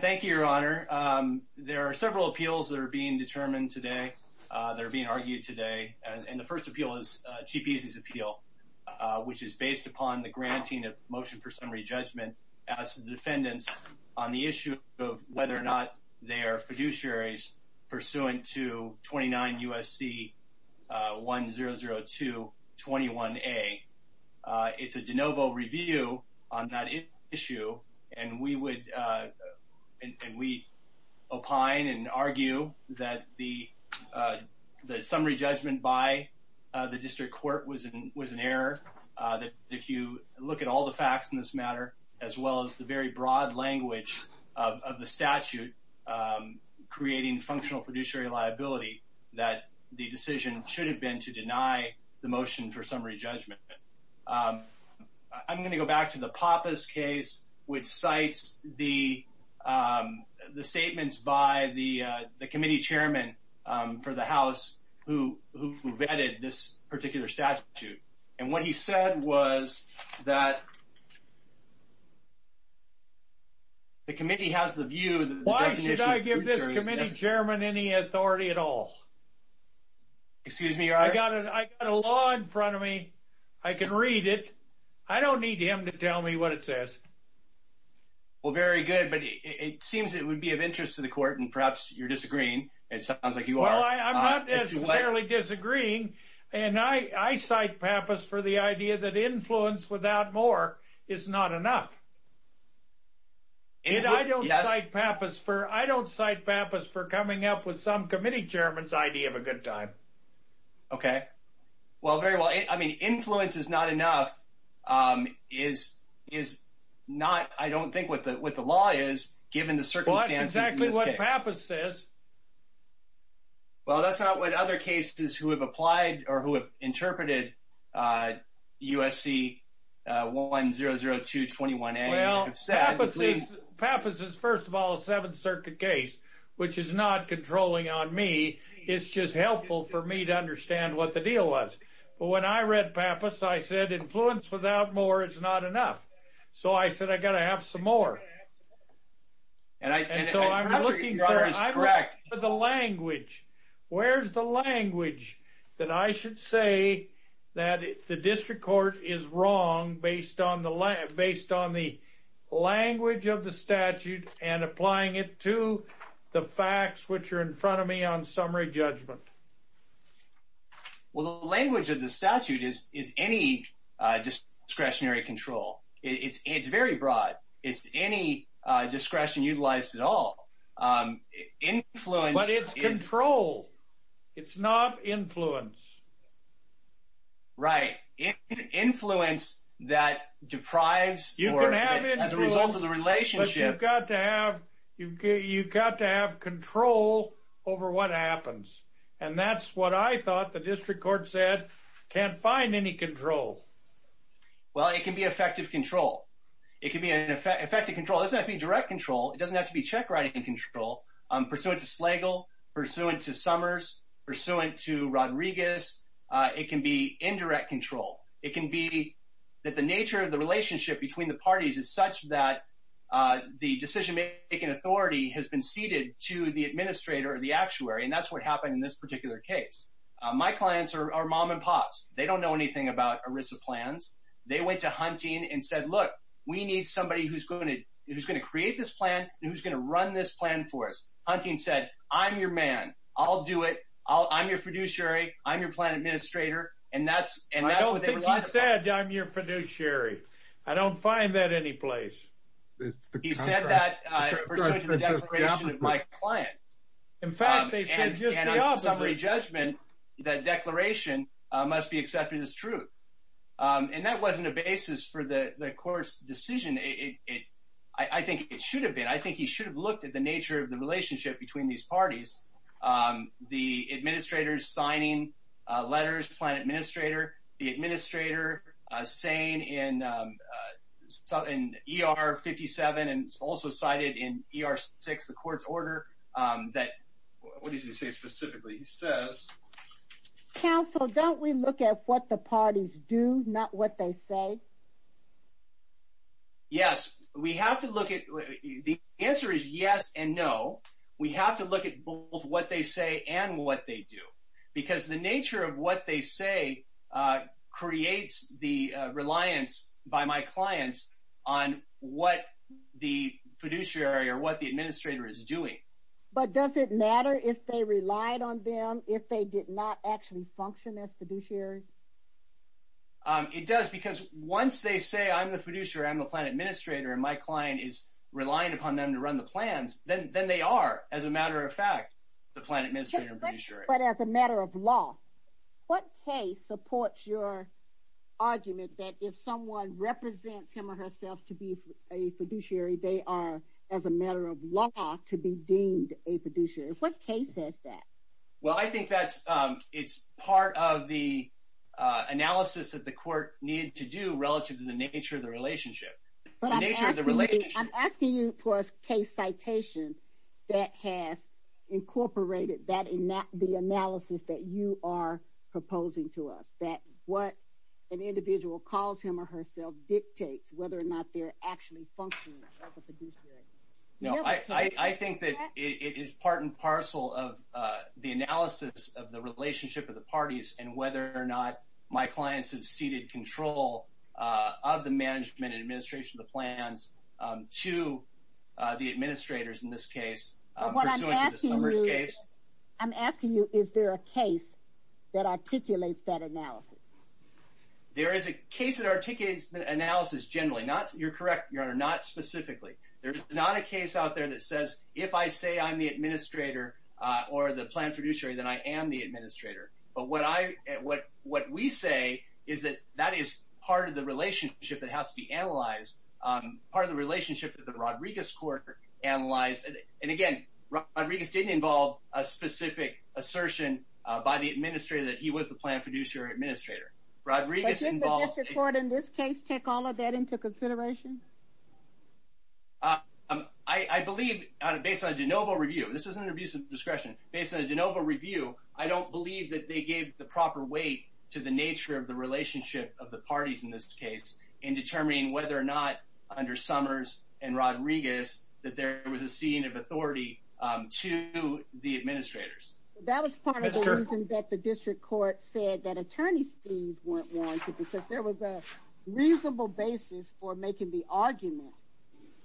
Thank you, Your Honor. There are several appeals that are being determined today, that are being argued today, and the first appeal is Cheap Easy's appeal, which is based upon the granting of Motion for Summary Judgment as defendants on the issue of whether or not they are fiduciaries pursuant to 29 U.S.C. 1002-21a. It's a de novo review on that issue, and we opine and argue that the summary judgment by the District Court was an error, that if you look at all the facts in this matter, as well as the very broad language of the statute creating functional fiduciary liability, that the decision should have been to deny the motion for summary judgment. I'm going to go back to the Pappas case, which cites the statements by the committee chairman for the House who vetted this particular statute. And what he said was that the committee has the view that the definition of fiduciary liability is necessary. Why should I give this committee chairman any authority at all? I've got a law in front of me. I can read it. I don't need him to tell me what it says. Well, very good, but it seems it would be of interest to the court, and perhaps you're disagreeing. It sounds like you are. Well, I'm not necessarily disagreeing, and I cite Pappas for the idea that influence without more is not enough. I don't cite Pappas for coming up with some committee chairman's idea to give a good time. Okay. Well, very well. I mean, influence is not enough is not, I don't think, what the law is given the circumstances in this case. Well, that's exactly what Pappas says. Well, that's not what other cases who have applied or who have interpreted USC 100221A have said. Well, Pappas is, first of all, a Seventh Circuit case, which is not controlling on me. It's just helpful for me to understand what the deal was. But when I read Pappas, I said influence without more is not enough. So I said I got to have some more. And so I'm looking for the language. Where's the language that I should say that the district court is wrong based on the language of the statute and applying it to the facts which are in front of me on summary judgment? Well, the language of the statute is any discretionary control. It's very broad. It's any discretion utilized at all. But it's control. It's not influence. Right. Influence that deprives or as a result of the relationship. But you've got to have control over what happens. And that's what I thought the district court said, can't find any control. Well, it can be effective control. It can be an effective control. It doesn't have to be direct control. It doesn't have to be check-writing control. Pursuant to Slagle, pursuant to Summers, pursuant to Rodriguez, it can be indirect control. It can be that the nature of the relationship between the parties is such that the decision-making authority has been ceded to the administrator or the actuary, and that's what happened in this particular case. My clients are mom and pops. They don't know anything about ERISA plans. They went to Hunting and said, look, we need somebody who's going to create this plan and who's going to run this plan for us. Hunting said, I'm your man. I'll do it. I'm your fiduciary. I'm your plan administrator. And that's what they relied upon. I don't think he said, I'm your fiduciary. I don't find that anyplace. He said that pursuant to the declaration of my client. In fact, they said just the opposite. And on summary judgment, that declaration must be accepted as true. And that wasn't a basis for the court's decision. I think it should have been. I think he should have looked at the nature of the relationship between these parties, the administrators signing letters, plan administrator, the administrator saying in ER 57 and also cited in ER 6, the court's order, that, what does he say specifically? He says. Counsel, don't we look at what the parties do, not what they say? Yes. We have to look at, the answer is yes and no. We have to look at both what they say and what they do. Because the nature of what they say creates the reliance by my clients on what the fiduciary or what the administrator is doing. But does it matter if they relied on them, if they did not actually function as fiduciaries? It does. Because once they say, I'm the fiduciary, I'm the plan administrator, and my client is relying upon them to run the plans, But as a matter of law, what case supports your argument that if someone represents him or herself to be a fiduciary, they are, as a matter of law, to be deemed a fiduciary? What case says that? Well, I think that's, it's part of the analysis that the court needed to do relative to the nature of the relationship. I'm asking you for a case citation that has incorporated that, the analysis that you are proposing to us, that what an individual calls him or herself dictates whether or not they're actually functioning as a fiduciary. No, I think that it is part and parcel of the analysis of the relationship of the parties and whether or not my clients have ceded control of the management and administration of the plans to the administrators in this case. I'm asking you, is there a case that articulates that analysis? There is a case that articulates the analysis generally. You're correct, Your Honor, not specifically. There's not a case out there that says, if I say I'm the administrator or the plan fiduciary, then I am the administrator. But what we say is that that is part of the relationship that has to be analyzed, part of the relationship that the Rodriguez court analyzed. And again, Rodriguez didn't involve a specific assertion by the administrator that he was the plan fiduciary administrator. But didn't the district court in this case take all of that into consideration? I believe, based on a de novo review, this is an abuse of discretion, based on a de novo review, I don't believe that they gave the proper weight to the nature of the relationship of the parties in this case in determining whether or not under the de novo review, there was a reasonable amount of discretionary authority to the administrators. That was part of the reason that the district court said that attorneys fees weren't warranted because there was a reasonable basis for making the argument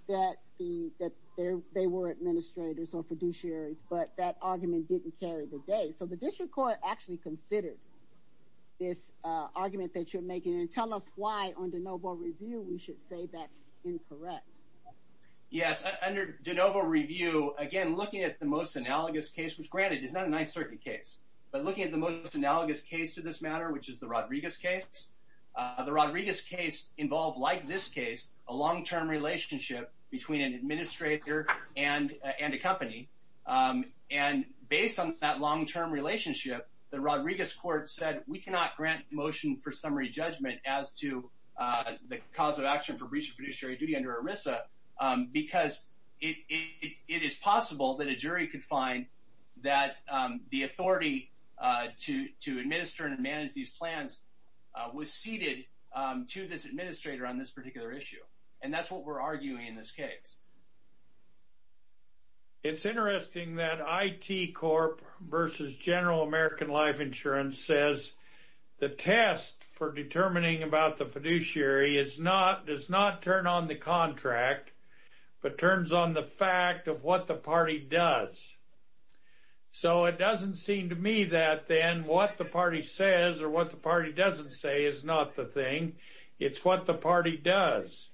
that the, that there, they were administrators or fiduciaries, but that argument didn't carry the day. So the district court actually considered this argument that you're making and tell us why on de novo review, we should say that's incorrect. Yes. Under de novo review, again, looking at the most analogous case, which granted is not a nice circuit case, but looking at the most analogous case to this matter, which is the Rodriguez case. The Rodriguez case involved like this case, a long-term relationship between an administrator and a company. And based on that long-term relationship, the Rodriguez court said we cannot grant motion for summary judgment as to the cause of action for breach of fiduciary duty under ERISA, because it is possible that a jury could find that the authority to, to administer and manage these plans was seated to this administrator on this particular issue. And that's what we're arguing in this case. It's interesting that IT Corp versus general American life insurance says the test for determining about the fiduciary is not, does not turn on the contract, but turns on the fact of what the party does. So it doesn't seem to me that then what the party says or what the party doesn't say is not the thing. It's what the party does.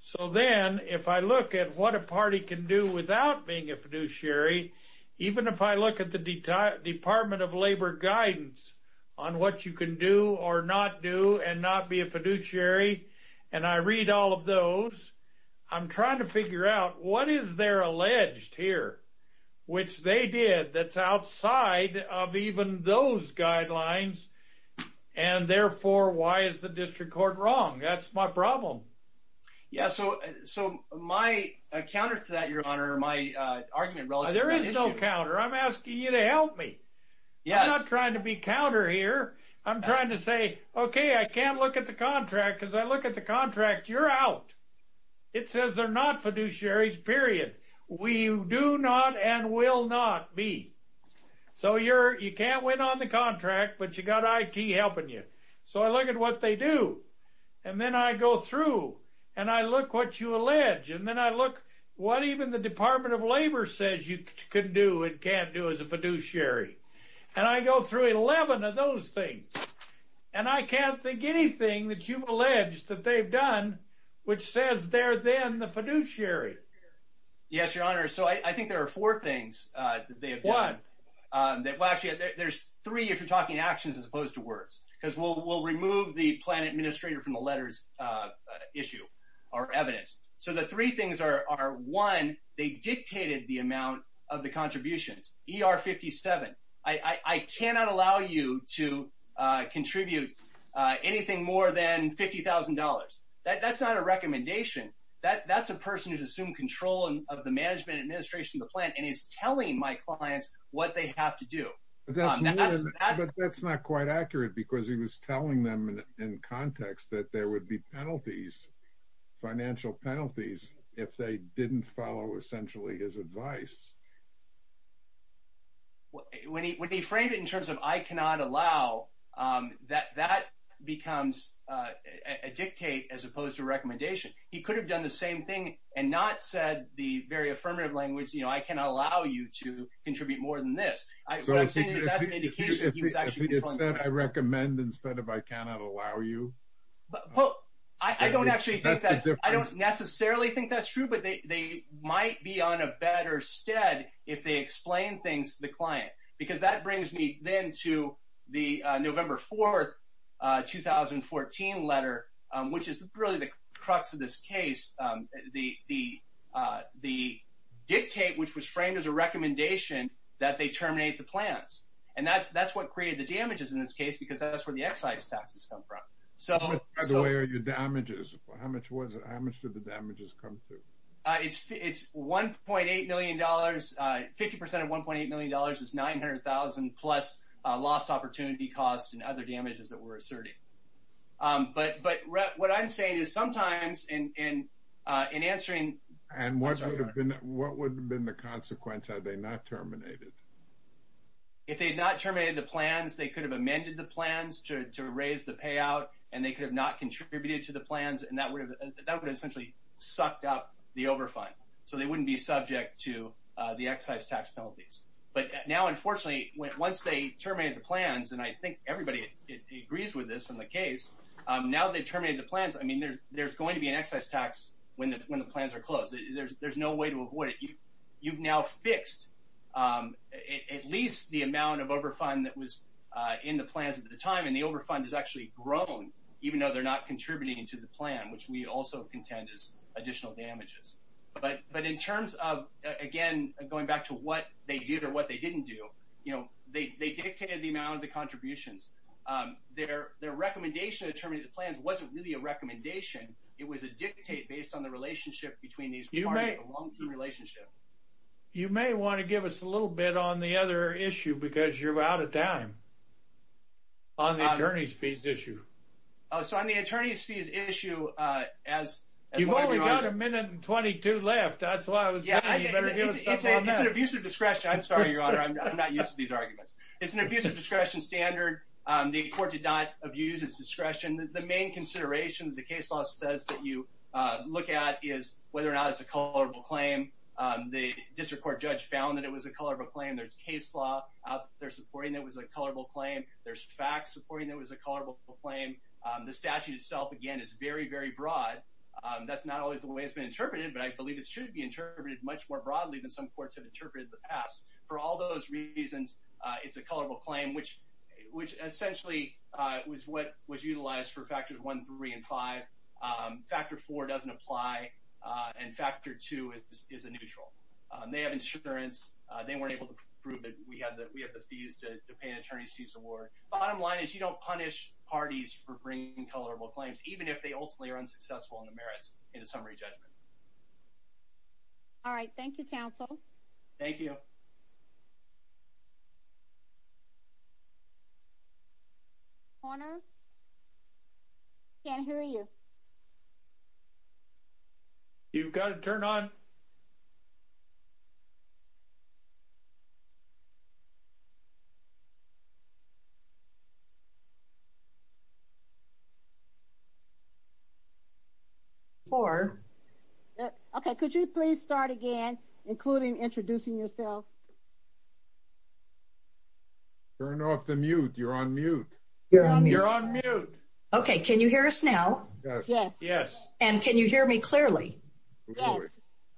So then if I look at what a party can do without being a fiduciary, even if I look at the department of labor guidance on what you can do or not do and not be a fiduciary, and I read all of those, I'm trying to figure out what is there alleged here, which they did that's outside of even those guidelines. And therefore why is the district court wrong? That's my problem. Yeah. So, so my counter to that, your honor, my argument, there is no counter. I'm asking you to help me. I'm not trying to be counter here. I'm trying to say, okay, I can't look at the contract because I look at the contract. You're out. It says they're not fiduciaries period. We do not and will not be. So you're, you can't win on the contract, but you got IT helping you. So I look at what they do and then I go through and I look what you allege. And then I look what even the department of labor says you couldn't do. It can't do as a fiduciary. And I go through 11 of those things. And I can't think anything that you've alleged that they've done, which says they're then the fiduciary. Yes, your honor. So I think there are four things that they have done. There's three, if you're talking actions as opposed to words, because we'll remove the plan administrator from the letters issue or evidence. So the three things are, are one, they dictated the amount of the contributions ER 57. I, I cannot allow you to contribute anything more than $50,000. That's not a recommendation that that's a person who's assumed control of the management administration, the plan and is telling my clients what they have to do. That's not quite accurate because he was telling them in context that there would be penalties, financial penalties if they didn't follow essentially his advice. When he, when he framed it in terms of, I cannot allow that, that becomes a dictate as opposed to recommendation. He could have done the same thing and not said the very affirmative language, you know, I cannot allow you to contribute more than this. I recommend instead of, I cannot allow you. Well, I don't actually, I don't necessarily think that's true, but they, they might be on a better stead if they explain things to the client, because that brings me then to the November 4th, a 2014 letter which is really the crux of this case. The, the the dictate, which was framed as a recommendation that they terminate the plans. And that, that's what created the damages in this case because that's where the excise taxes come from. So the damages, how much was it? How much did the damages come through? It's, it's $1.8 million, 50% of $1.8 million is 900,000 plus lost opportunity costs and other damages that we're asserting. But, but what I'm saying is sometimes in, in, in answering, and what would have been, what would have been the consequence? Are they not terminated? If they had not terminated the plans, they could have amended the plans to raise the payout and they could have not contributed to the plans. And that would have, that would essentially sucked up the over fund. So they wouldn't be subject to the excise tax penalties. But now, unfortunately, once they terminated the plans, and I think everybody agrees with this in the case, now they terminated the plans. I mean, there's, there's going to be an excise tax when the, when the plans are closed, there's, there's no way to avoid it. You've now fixed at least the amount of over fund that was in the plans at the time. And the over fund is actually grown, even though they're not contributing to the plan, which we also contend is additional damages. But, but in terms of again, going back to what they did or what they didn't do, you know, they, they dictated the amount of the contributions there, their recommendation to terminate the plans wasn't really a recommendation. It was a dictate based on the relationship between these parties, a long term relationship. You may want to give us a little bit on the other issue because you're out of time on the attorney's fees issue. Oh, so on the attorney's fees issue, uh, as, you've only got a minute and 22 left. That's why I was, it's an abusive discretion. I'm sorry, your honor. I'm not used to these arguments. It's an abusive discretion standard. Um, the court did not abuse its discretion. The main consideration that the case law says that you look at is whether or not it's a colorable claim. Um, the district court judge found that it was a color of a claim. There's case law out there supporting that was a colorable claim. There's facts supporting that was a colorable claim. Um, the statute itself again is very, very broad. Um, that's not always the way it's been interpreted, but I believe it should be interpreted much more broadly than some courts have interpreted the past for all those reasons. Uh, it's a colorable claim, which, which essentially, uh, was what was utilized for factors one, three, and five, um, factor four doesn't apply. Uh, and factor two is a neutral. Um, they have insurance. Uh, they weren't able to prove that we have the, we have the fees to pay an attorney's fees award. Bottom line is you don't punish parties for bringing colorable claims, even if they ultimately are unsuccessful in the merits in a summary judgment. All right. Thank you, counsel. Thank you. I can't hear you. You've got to turn on for. Okay. Could you please start again, including introducing yourself turn off the mute. You're on mute. You're on mute. Okay. Can you hear us now? Yes. Yes. And can you hear me clearly? Yes.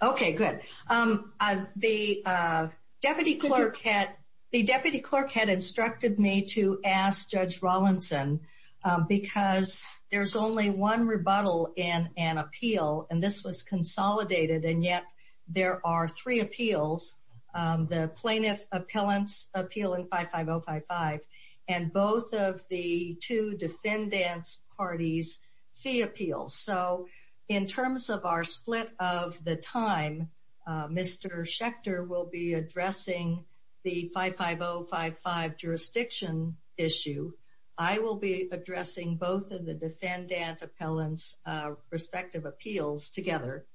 Okay, good. Um, uh, the, uh, deputy clerk had, the deputy clerk had instructed me to ask judge Rawlinson, um, because there's only one rebuttal in an appeal and this was consolidated. And yet there are three appeals, um, the plaintiff appellants appeal in five, five Oh five, five and both of the two defendants parties fee appeals. So in terms of our split of the time, uh, Mr. Schechter will be addressing the five, five Oh five, five jurisdiction issue. I will be addressing both of the defendant appellants, uh, respective appeals together,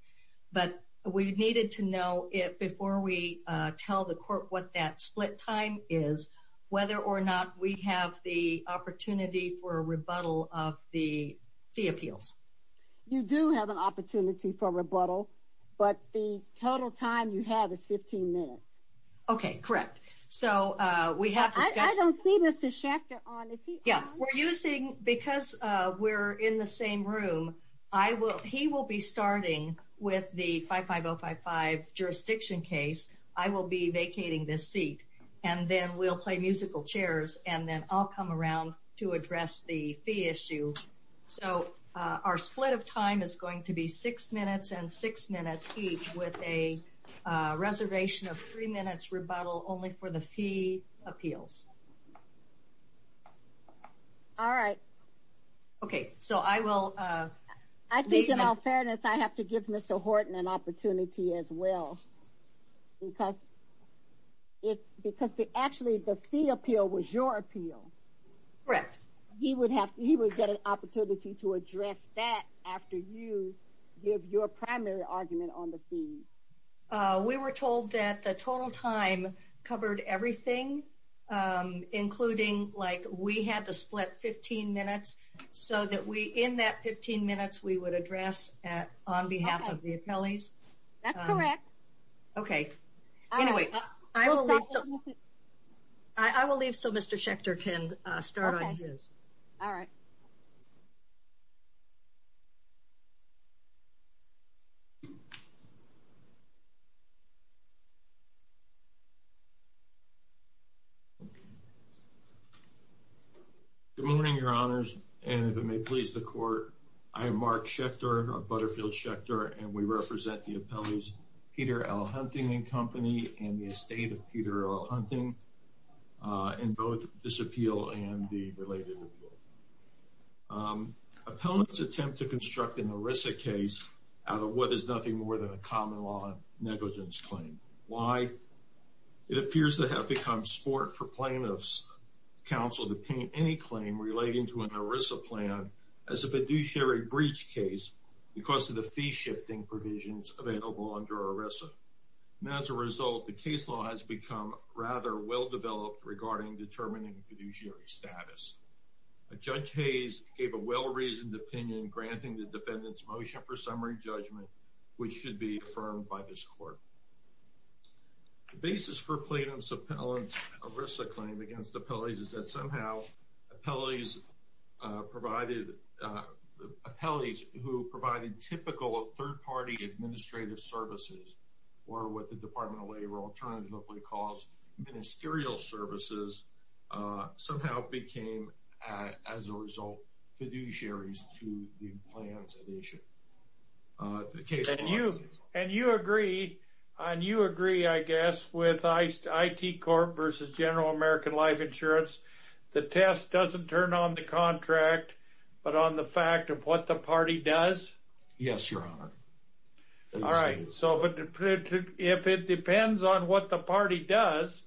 but we needed to know it before we, uh, tell the court what that split time is, whether or not we have the opportunity for a rebuttal of the fee appeals. You do have an opportunity for rebuttal, but the total time you have is 15 minutes. Okay. Correct. So, uh, we have, I don't see Mr. Schechter on. Yeah, we're using because, uh, we're in the same room. I will, he will be starting with the five, five Oh five, five jurisdiction case. I will be vacating this seat. And then we'll play musical chairs and then I'll come around to address the fee issue. So, uh, our split of time is going to be six minutes and six minutes each with a, uh, reservation of three minutes rebuttal only for the fee appeals. All right. Okay. So I will, uh, I think in all fairness, I have to give Mr. Horton an opportunity as well because it, because the, actually the fee appeal was your appeal. Correct. He would have, he would get an opportunity to address that after you give your primary argument on the fee. Uh, we were told that the total time covered everything. Um, including like we had to split 15 minutes so that we, in that 15 minutes we would address at, on behalf of the appellees. That's correct. Okay. Anyway, I will leave. So Mr. Schechter can start on his. All right. Okay. Good morning, your honors. And if it may please the court, I am Mark Schechter of Butterfield Schechter and we represent the appellees, Peter L hunting and company and the estate of Peter L hunting, uh, and both disappeal and the related. Um, appellants attempt to construct an Arisa case out of what is nothing more than a common law negligence claim. Why? It appears to have become sport for plaintiffs counsel to paint any claim relating to an Arisa plan as a fiduciary breach case because of the fee shifting provisions available under Arisa. And as a result, the case law has become rather well-developed regarding determining fiduciary status. A judge Hayes gave a well-reasoned opinion granting the defendant's motion for summary judgment, which should be affirmed by this court. The basis for plaintiff's appellant Arisa claim against appellees is that somehow appellees, uh, provided, uh, appellees who provided typical third party administrative services or what the department of labor alternatively calls ministerial services, uh, somehow became, uh, as a result, fiduciaries to the plans. Uh, and you, and you agree on, you agree, I guess, with ice, I T Corp versus general American life insurance. The test doesn't turn on the contract, but on the fact of what the party does. Yes, your honor. All right. So if it depends on what the party does,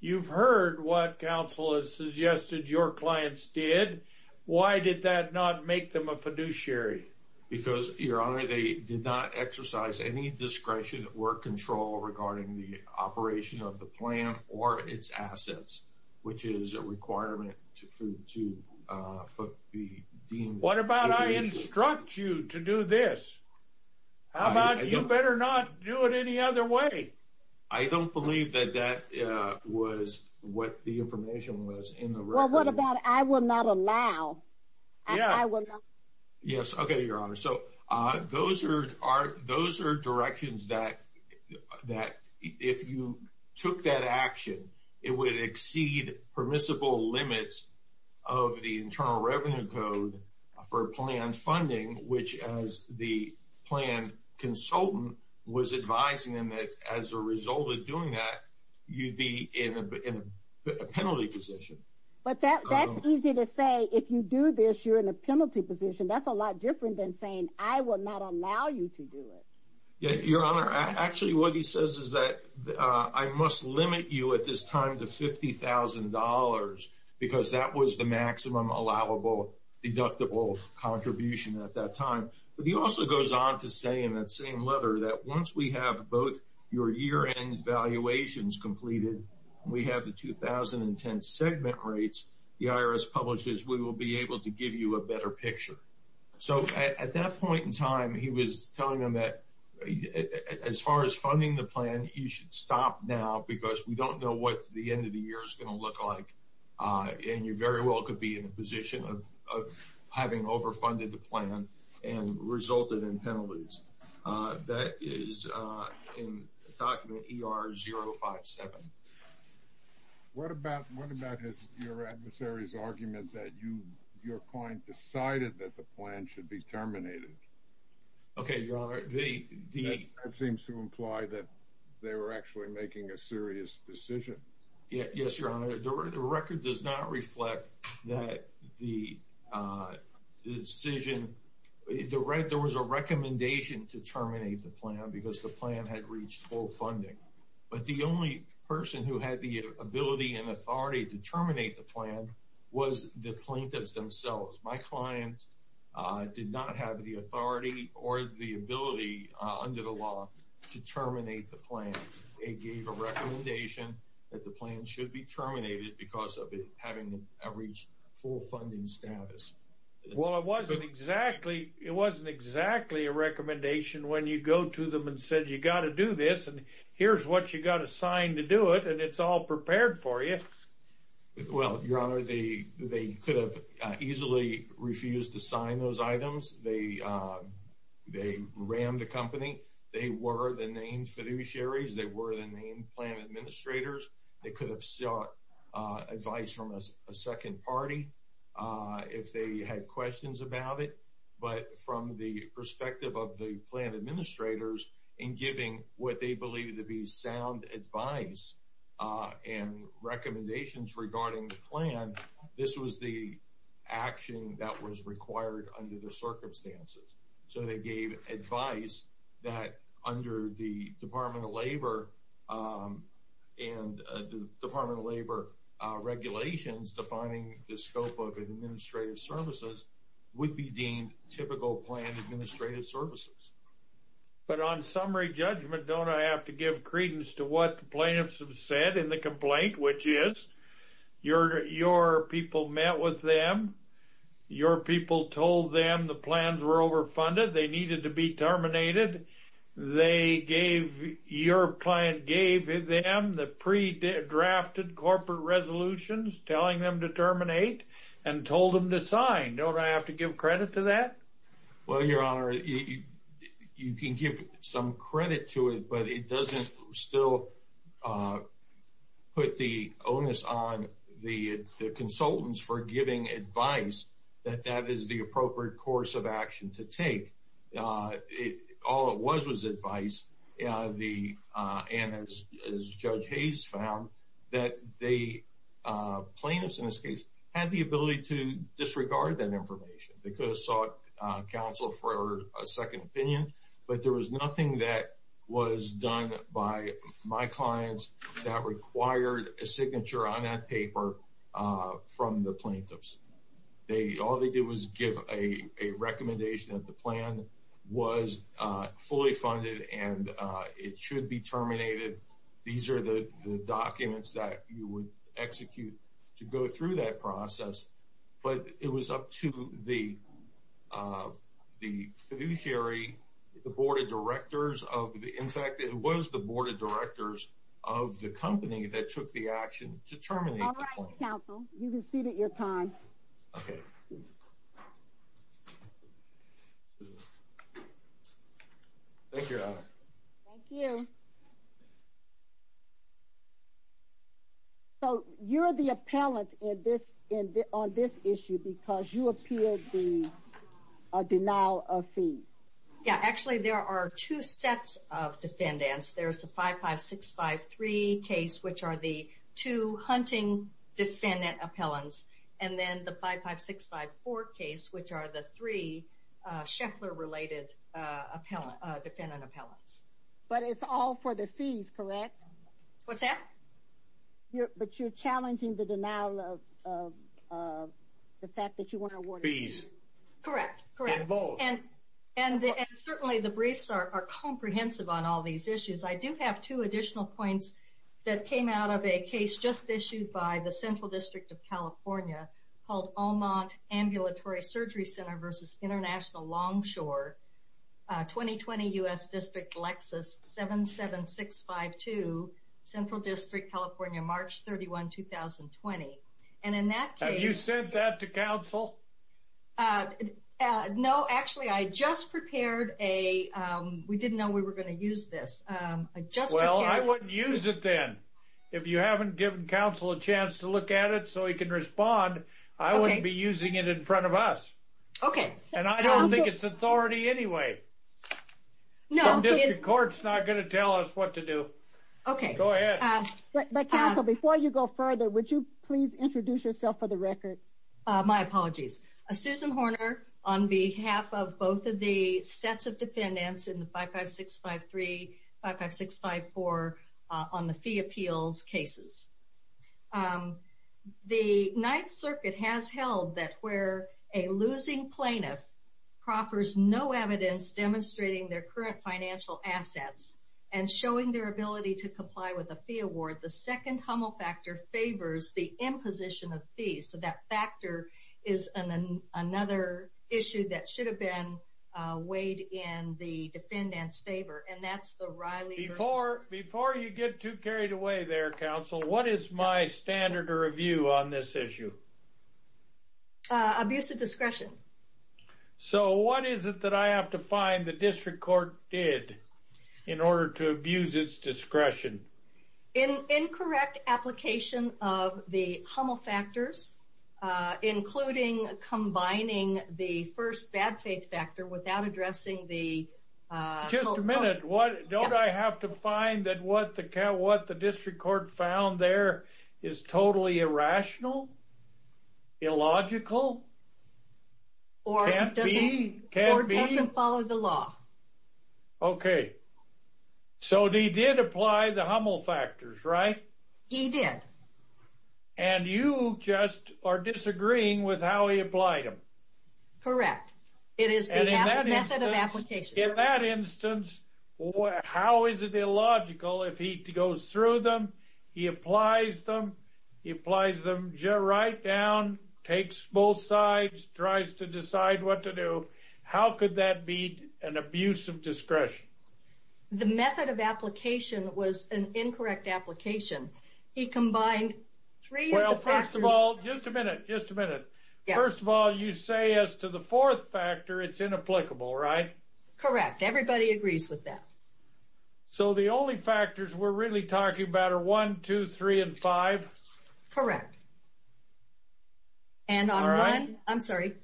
you've heard what counsel has suggested your clients did. Why did that not make them a fiduciary? Because your honor, they did not exercise any discretion or control regarding the operation of the plan or its assets, which is a requirement to, to, uh, for the dean. What about I instruct you to do this? How about, you better not do it any other way. I don't believe that that, uh, was what the information was in the room. What about, I will not allow. Yes. Okay. Your honor. So, uh, those are, are, those are directions that, that if you took that action, it would exceed permissible limits of the internal revenue code for plans funding, which as the plan consultant was advising him that as a result of doing that, you'd be in a penalty position. But that's easy to say. If you do this, you're in a penalty position. That's a lot different than saying, I will not allow you to do it. Yeah. Your honor. Actually, what he says is that, uh, I must limit you at this time to $50,000 because that was the maximum allowable deductible contribution at that time. But he also goes on to say in that same letter that once we have both your year end valuations completed, we have the 2010 segment rates. The IRS publishes, we will be able to give you a better picture. So at that point in time, he was telling them that as far as funding the plan, you should stop now because we don't know what the end of the year is going to look like. Uh, having overfunded the plan and resulted in penalties. Uh, that is, uh, in document ER 0 5 7. What about, what about his, your adversaries argument that you, your client decided that the plan should be terminated? Okay. Your honor. It seems to imply that they were actually making a serious decision. Yes, your honor. The record does not reflect that the, uh, the decision, the red, there was a recommendation to terminate the plan because the plan had reached full funding. But the only person who had the ability and authority to terminate the plan was the plaintiffs themselves. My clients did not have the authority or the ability, uh, under the law to terminate the plan. It gave a recommendation that the plan should be terminated because of it having reached full funding status. Well, it wasn't exactly, it wasn't exactly a recommendation when you go to them and said, you got to do this and here's what you got to sign to do it. And it's all prepared for you. Well, your honor, they, they could have easily refused to sign those items. They, uh, they ran the company. They were the name fiduciaries. They were the name plan administrators. They could have sought advice from a second party, uh, if they had questions about it, but from the perspective of the plan administrators and giving what they believe to be sound advice, uh, and recommendations regarding the plan, this was the action that was required under the circumstances. So they gave advice that under the department of labor, um, and the department of labor, uh, regulations defining the scope of an administrative services would be deemed typical plan administrative services. But on summary judgment, don't I have to give credence to what plaintiffs have said in the complaint, which is your, your people met with them. Your people told them the plans were overfunded. They needed to be terminated. They gave your client gave them the pre drafted corporate resolutions telling them to terminate and told them to sign. Don't I have to give credit to that? Well, your honor, you can give some credit to it, but it doesn't still, uh, put the onus on the consultants for giving advice that that is the appropriate course of action to take. Uh, it all it was was advice. Uh, the, uh, and as, as judge Hayes found that they, uh, plaintiffs in this case had the ability to disregard that information. They could have sought counsel for a second opinion, but there was nothing that was done by my clients that required a signature on that paper, uh, from the plaintiffs. They, all they did was give a, a recommendation that the plan was, uh, fully funded and, uh, it should be terminated. These are the documents that you would execute to go through that process, but it was up to the, uh, the fiduciary, the board of directors of the, in fact it was the board of directors of the company that took the action to terminate counsel. You can see that your time. Okay. Thank you. Thank you. Okay. So you're the appellant in this, in the, on this issue, because you appeared the, uh, denial of fees. Yeah, actually there are two sets of defendants. There's the five, five, six, five, three case, which are the two hunting defendant appellants. And then the five, five, six, five, four case, which are the three, uh, Sheffler related, uh, appellant defendant appellants, but it's all for the fees, correct? What's that? But you're challenging the denial of, uh, uh, the fact that you want to award fees. Correct. Correct. And, and certainly the briefs are comprehensive on all these issues. I do have two additional points that came out of a case just issued by the central district of California called Allmont ambulatory surgery center versus international long shore, uh, 2020 U S district Lexus, seven, seven, six, five, two central district, California, March 31, 2020. And in that case, you sent that to council. Uh, uh, no, actually I just prepared a, um, we didn't know we were going to use this. Um, I just, well, I wouldn't use it then. If you haven't given council a chance to look at it so he can respond, I wouldn't be using it in front of us. Okay. And I don't think it's authority anyway. No, court's not going to tell us what to do. Okay. Go ahead. Before you go further, would you please introduce yourself for the record? Uh, my apologies, uh, Susan Horner on behalf of both of the sets of defendants in the five, five, six, five, three, five, five, six, five, four, uh, on the fee appeals cases. Um, the ninth circuit has held that where a losing plaintiff proffers, no evidence demonstrating their current financial assets and showing their ability to comply with a fee award. The second Hummel factor favors the imposition of fees. So that factor is an, another issue that should have been weighed in the defendants favor. And that's the Riley before, before you get too carried away there, counsel, what is my standard or review on this issue? Uh, abuse of discretion. So what is it that I have to find the district court did in order to abuse its discretion? In incorrect application of the Hummel factors, uh, including combining the first bad faith factor without addressing the, uh, just a minute. What don't I have to find that what the cow, what the district court found there is totally irrational, illogical, or follow the law. Okay. So they did apply the Hummel factors, right? He did. And you just are disagreeing with how he applied them. Correct. It is that in that instance, how is it illogical? If he goes through them, he applies them, he applies them right down, takes both sides, tries to decide what to do. How could that be an abuse of discretion? The method of application was an incorrect application. He combined three. Well, first of all, just a minute, just a minute. First of all, you say as to the fourth factor, it's inapplicable, right? Correct. Everybody agrees with that. So the only factors we're really talking about are one, two, three, and five. Correct. And on one, I'm sorry,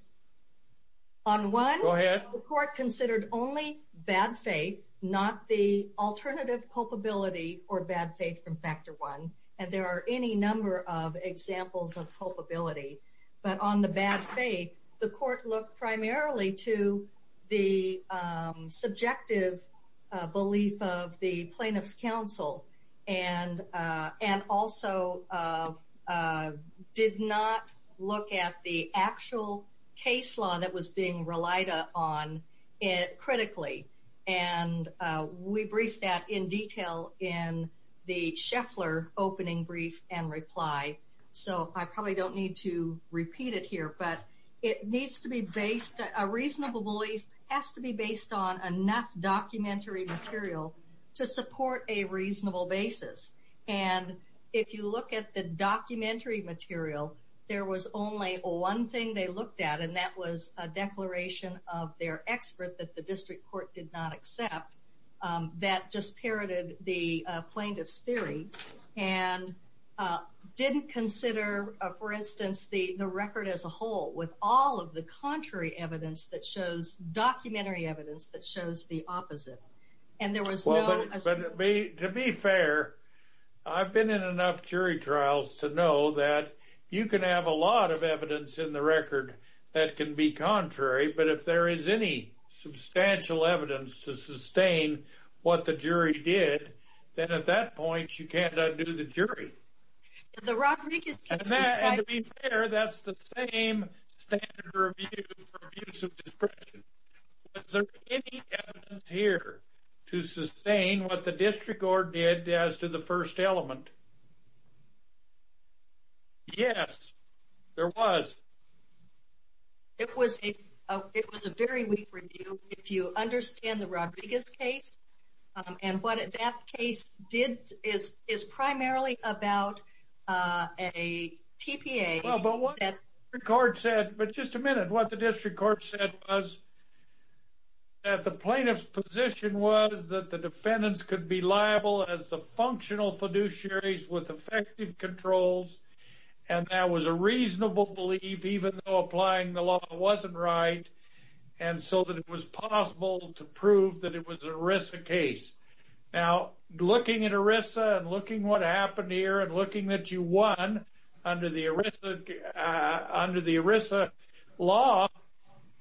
on one, the court considered only bad faith, not the alternative culpability or bad faith from factor one. And there are any number of examples of culpability, but on the bad faith, the court looked primarily to the subjective belief of the plaintiff's counsel and also did not look at the actual case law that was being relied on critically. And we briefed that in detail in the Scheffler opening brief and reply. So I probably don't need to repeat it here, but it needs to be based, a reasonable belief has to be based on enough documentary material to support a reasonable basis. And if you look at the documentary material, there was only one thing they looked at and that was a declaration of their expert that the district court did not accept that just parroted the plaintiff's jury and didn't consider, for instance, the record as a whole with all of the contrary evidence that shows documentary evidence that shows the opposite. And there was no... To be fair, I've been in enough jury trials to know that you can have a lot of evidence in the record that can be contrary, but if there is any substantial evidence to sustain what the jury did, then at that point you can't undo the jury. And to be fair, that's the same standard review for abuse of discretion. Was there any evidence here to sustain what the district court did as to the first element? Yes, there was. It was a very weak review. If you understand the Rodriguez case, and what that case did is primarily about a TPA. Well, but what the court said, but just a minute, what the district court said was that the plaintiff's position was that the defendants could be liable as the functional fiduciaries with effective controls. And that was a reasonable belief, even though applying the law wasn't right. And so that it was possible to prove that it was an ERISA case. Now looking at ERISA and looking what happened here and looking that you won under the ERISA law,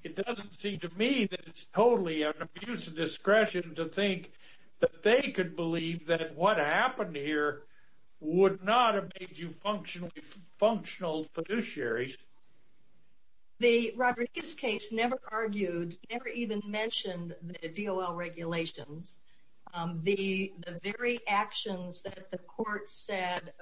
it doesn't seem to me that it's totally an abuse of discretion to think that they could believe that what happened here would not have made you functional fiduciaries. The Rodriguez case never argued, never even mentioned the DOL regulations. The very actions that the court said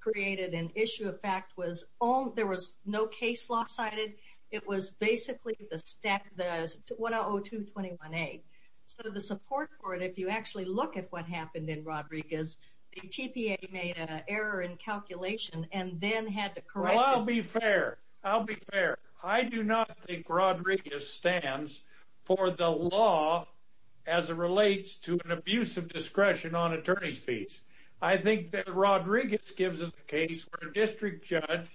created an issue of fact was, there was no case law cited. It was basically the 1002-21A. So the support for it, if you actually look at what happened in Rodriguez the TPA made an error in the DOL regulations. plaintiff's position was correct. Well, I'll be fair. I'll be fair. I do not think Rodriguez stands for the law as it relates to an abuse of discretion on attorney's fees. I think that Rodriguez gives us a case where a district judge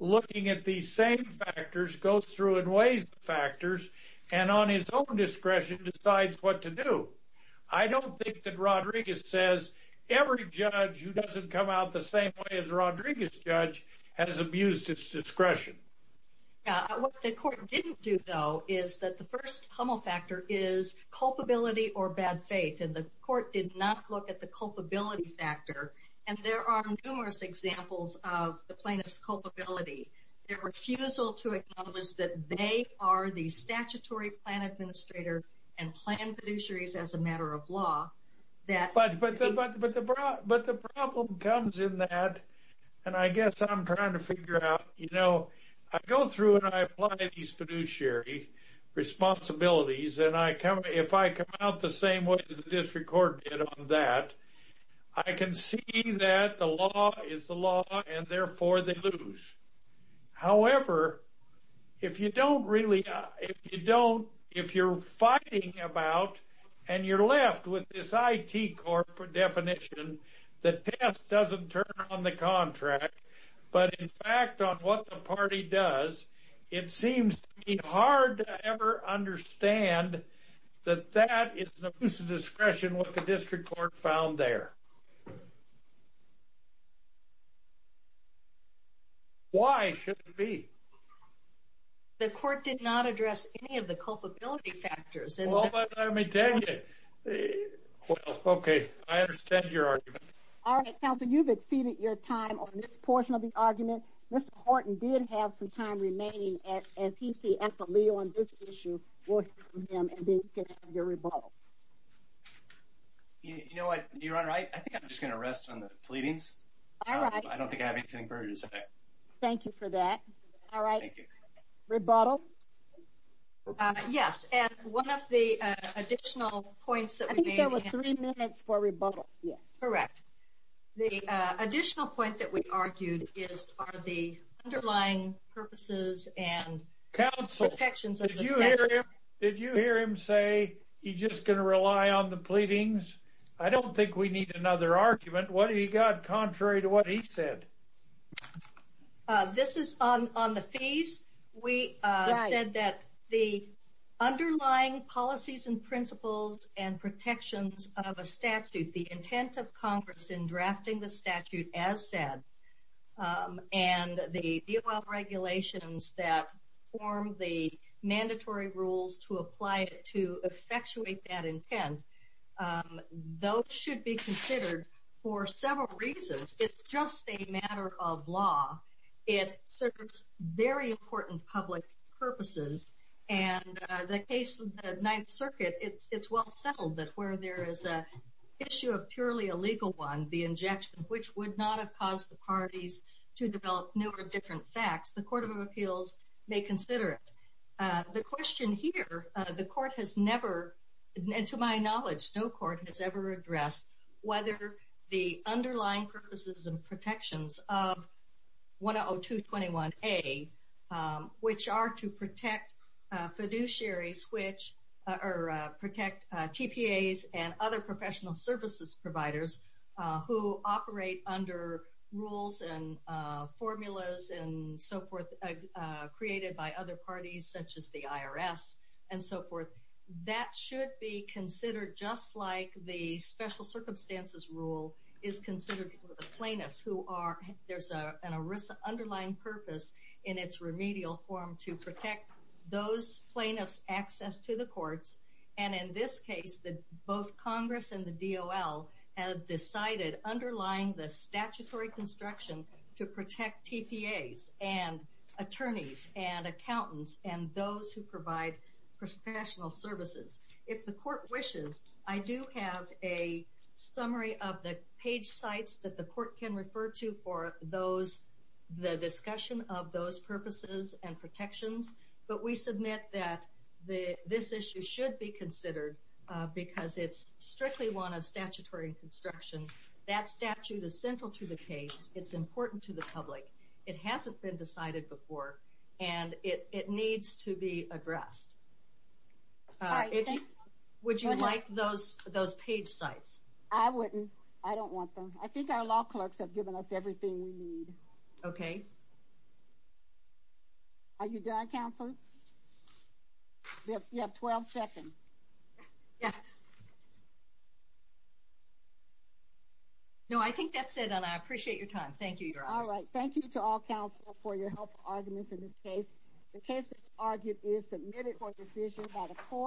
looking at these same factors goes through and weighs the factors and on his own discretion decides what to do. I don't think that Rodriguez says every judge who doesn't come out the same way as a Rodriguez judge has abused its discretion. What the court didn't do though, is that the first homofactor is culpability or bad faith. And the court did not look at the culpability factor. And there are numerous examples of the plaintiff's culpability, their refusal to acknowledge that they are the statutory plan administrator and plan fiduciaries as a matter of law. But the problem comes in that, and I guess I'm trying to figure out, you know, I go through and I apply these fiduciary responsibilities and I come, if I come out the same way as the district court did on that, I can see that the law is the law and therefore they lose. However, if you don't really, if you don't, if you're fighting about and you're left with this it corporate definition, the test doesn't turn on the contract, but in fact, on what the party does, it seems hard to ever understand that that is the discretion, what the district court found there. Why should it be? The court did not address any of the culpability factors. Okay. I understand your argument. All right. Now that you've exceeded your time on this portion of the argument, Mr. Horton didn't have some time remaining at, as he see equity on this issue, him and your rebuttal. You know what you're on, right? I think I'm just going to rest on the pleadings. I don't think I have anything for you to say. Thank you for that. All right. Rebuttal. Yes. And one of the additional points that I think that was three minutes for rebuttal. Yes, correct. The additional point that we argued is are the underlying purposes and counsel protections. Did you hear him say he just going to rely on the pleadings? I don't think we need another argument. What do you got contrary to what he said? This is on, on the fees. We said that the underlying policies and principles and protections of a statute, the intent of Congress in drafting the statute as said and the regulations that form the mandatory rules to apply it to effectuate that intent. Those should be considered for several reasons. It's just a matter of law. It serves very important public purposes and the case of the ninth circuit, it's, it's well settled that where there is a issue of purely a legal one, the injection of which would not have caused the parties to develop new or different facts. The court of appeals may consider it. The question here, the court has never, and to my knowledge, no court has ever addressed whether the underlying purposes and protections of one Oh two 21 a which are to protect a fiduciary switch or protect TPAs and other professional services providers who operate under rules and formulas and so forth created by other parties such as the IRS and so forth. That should be considered just like the special circumstances rule is considered for the plaintiffs who are, there's a an Arisa underlying purpose in its remedial form to protect those plaintiffs access to the courts. And in this case that both Congress and the DOL has decided underlying the statutory construction to protect TPAs and attorneys and accountants and those who provide professional services. If the court wishes, I do have a summary of the page sites that the court can refer to for those, the discussion of those purposes and protections. But we submit that the, this issue should be considered because it's strictly one of statutory construction. That statute is central to the case. It's important to the public. It hasn't been decided before. And it, it needs to be addressed. Would you like those, those page sites? I wouldn't, I don't want them. I think our law clerks have given us everything we need. Okay. Are you done counseling? You have 12 seconds. No, I think that's it. And I appreciate your time. Thank you. All right. Thank you to all counsel for your help. Arguments in this case, the case argued is submitted for decision by the court.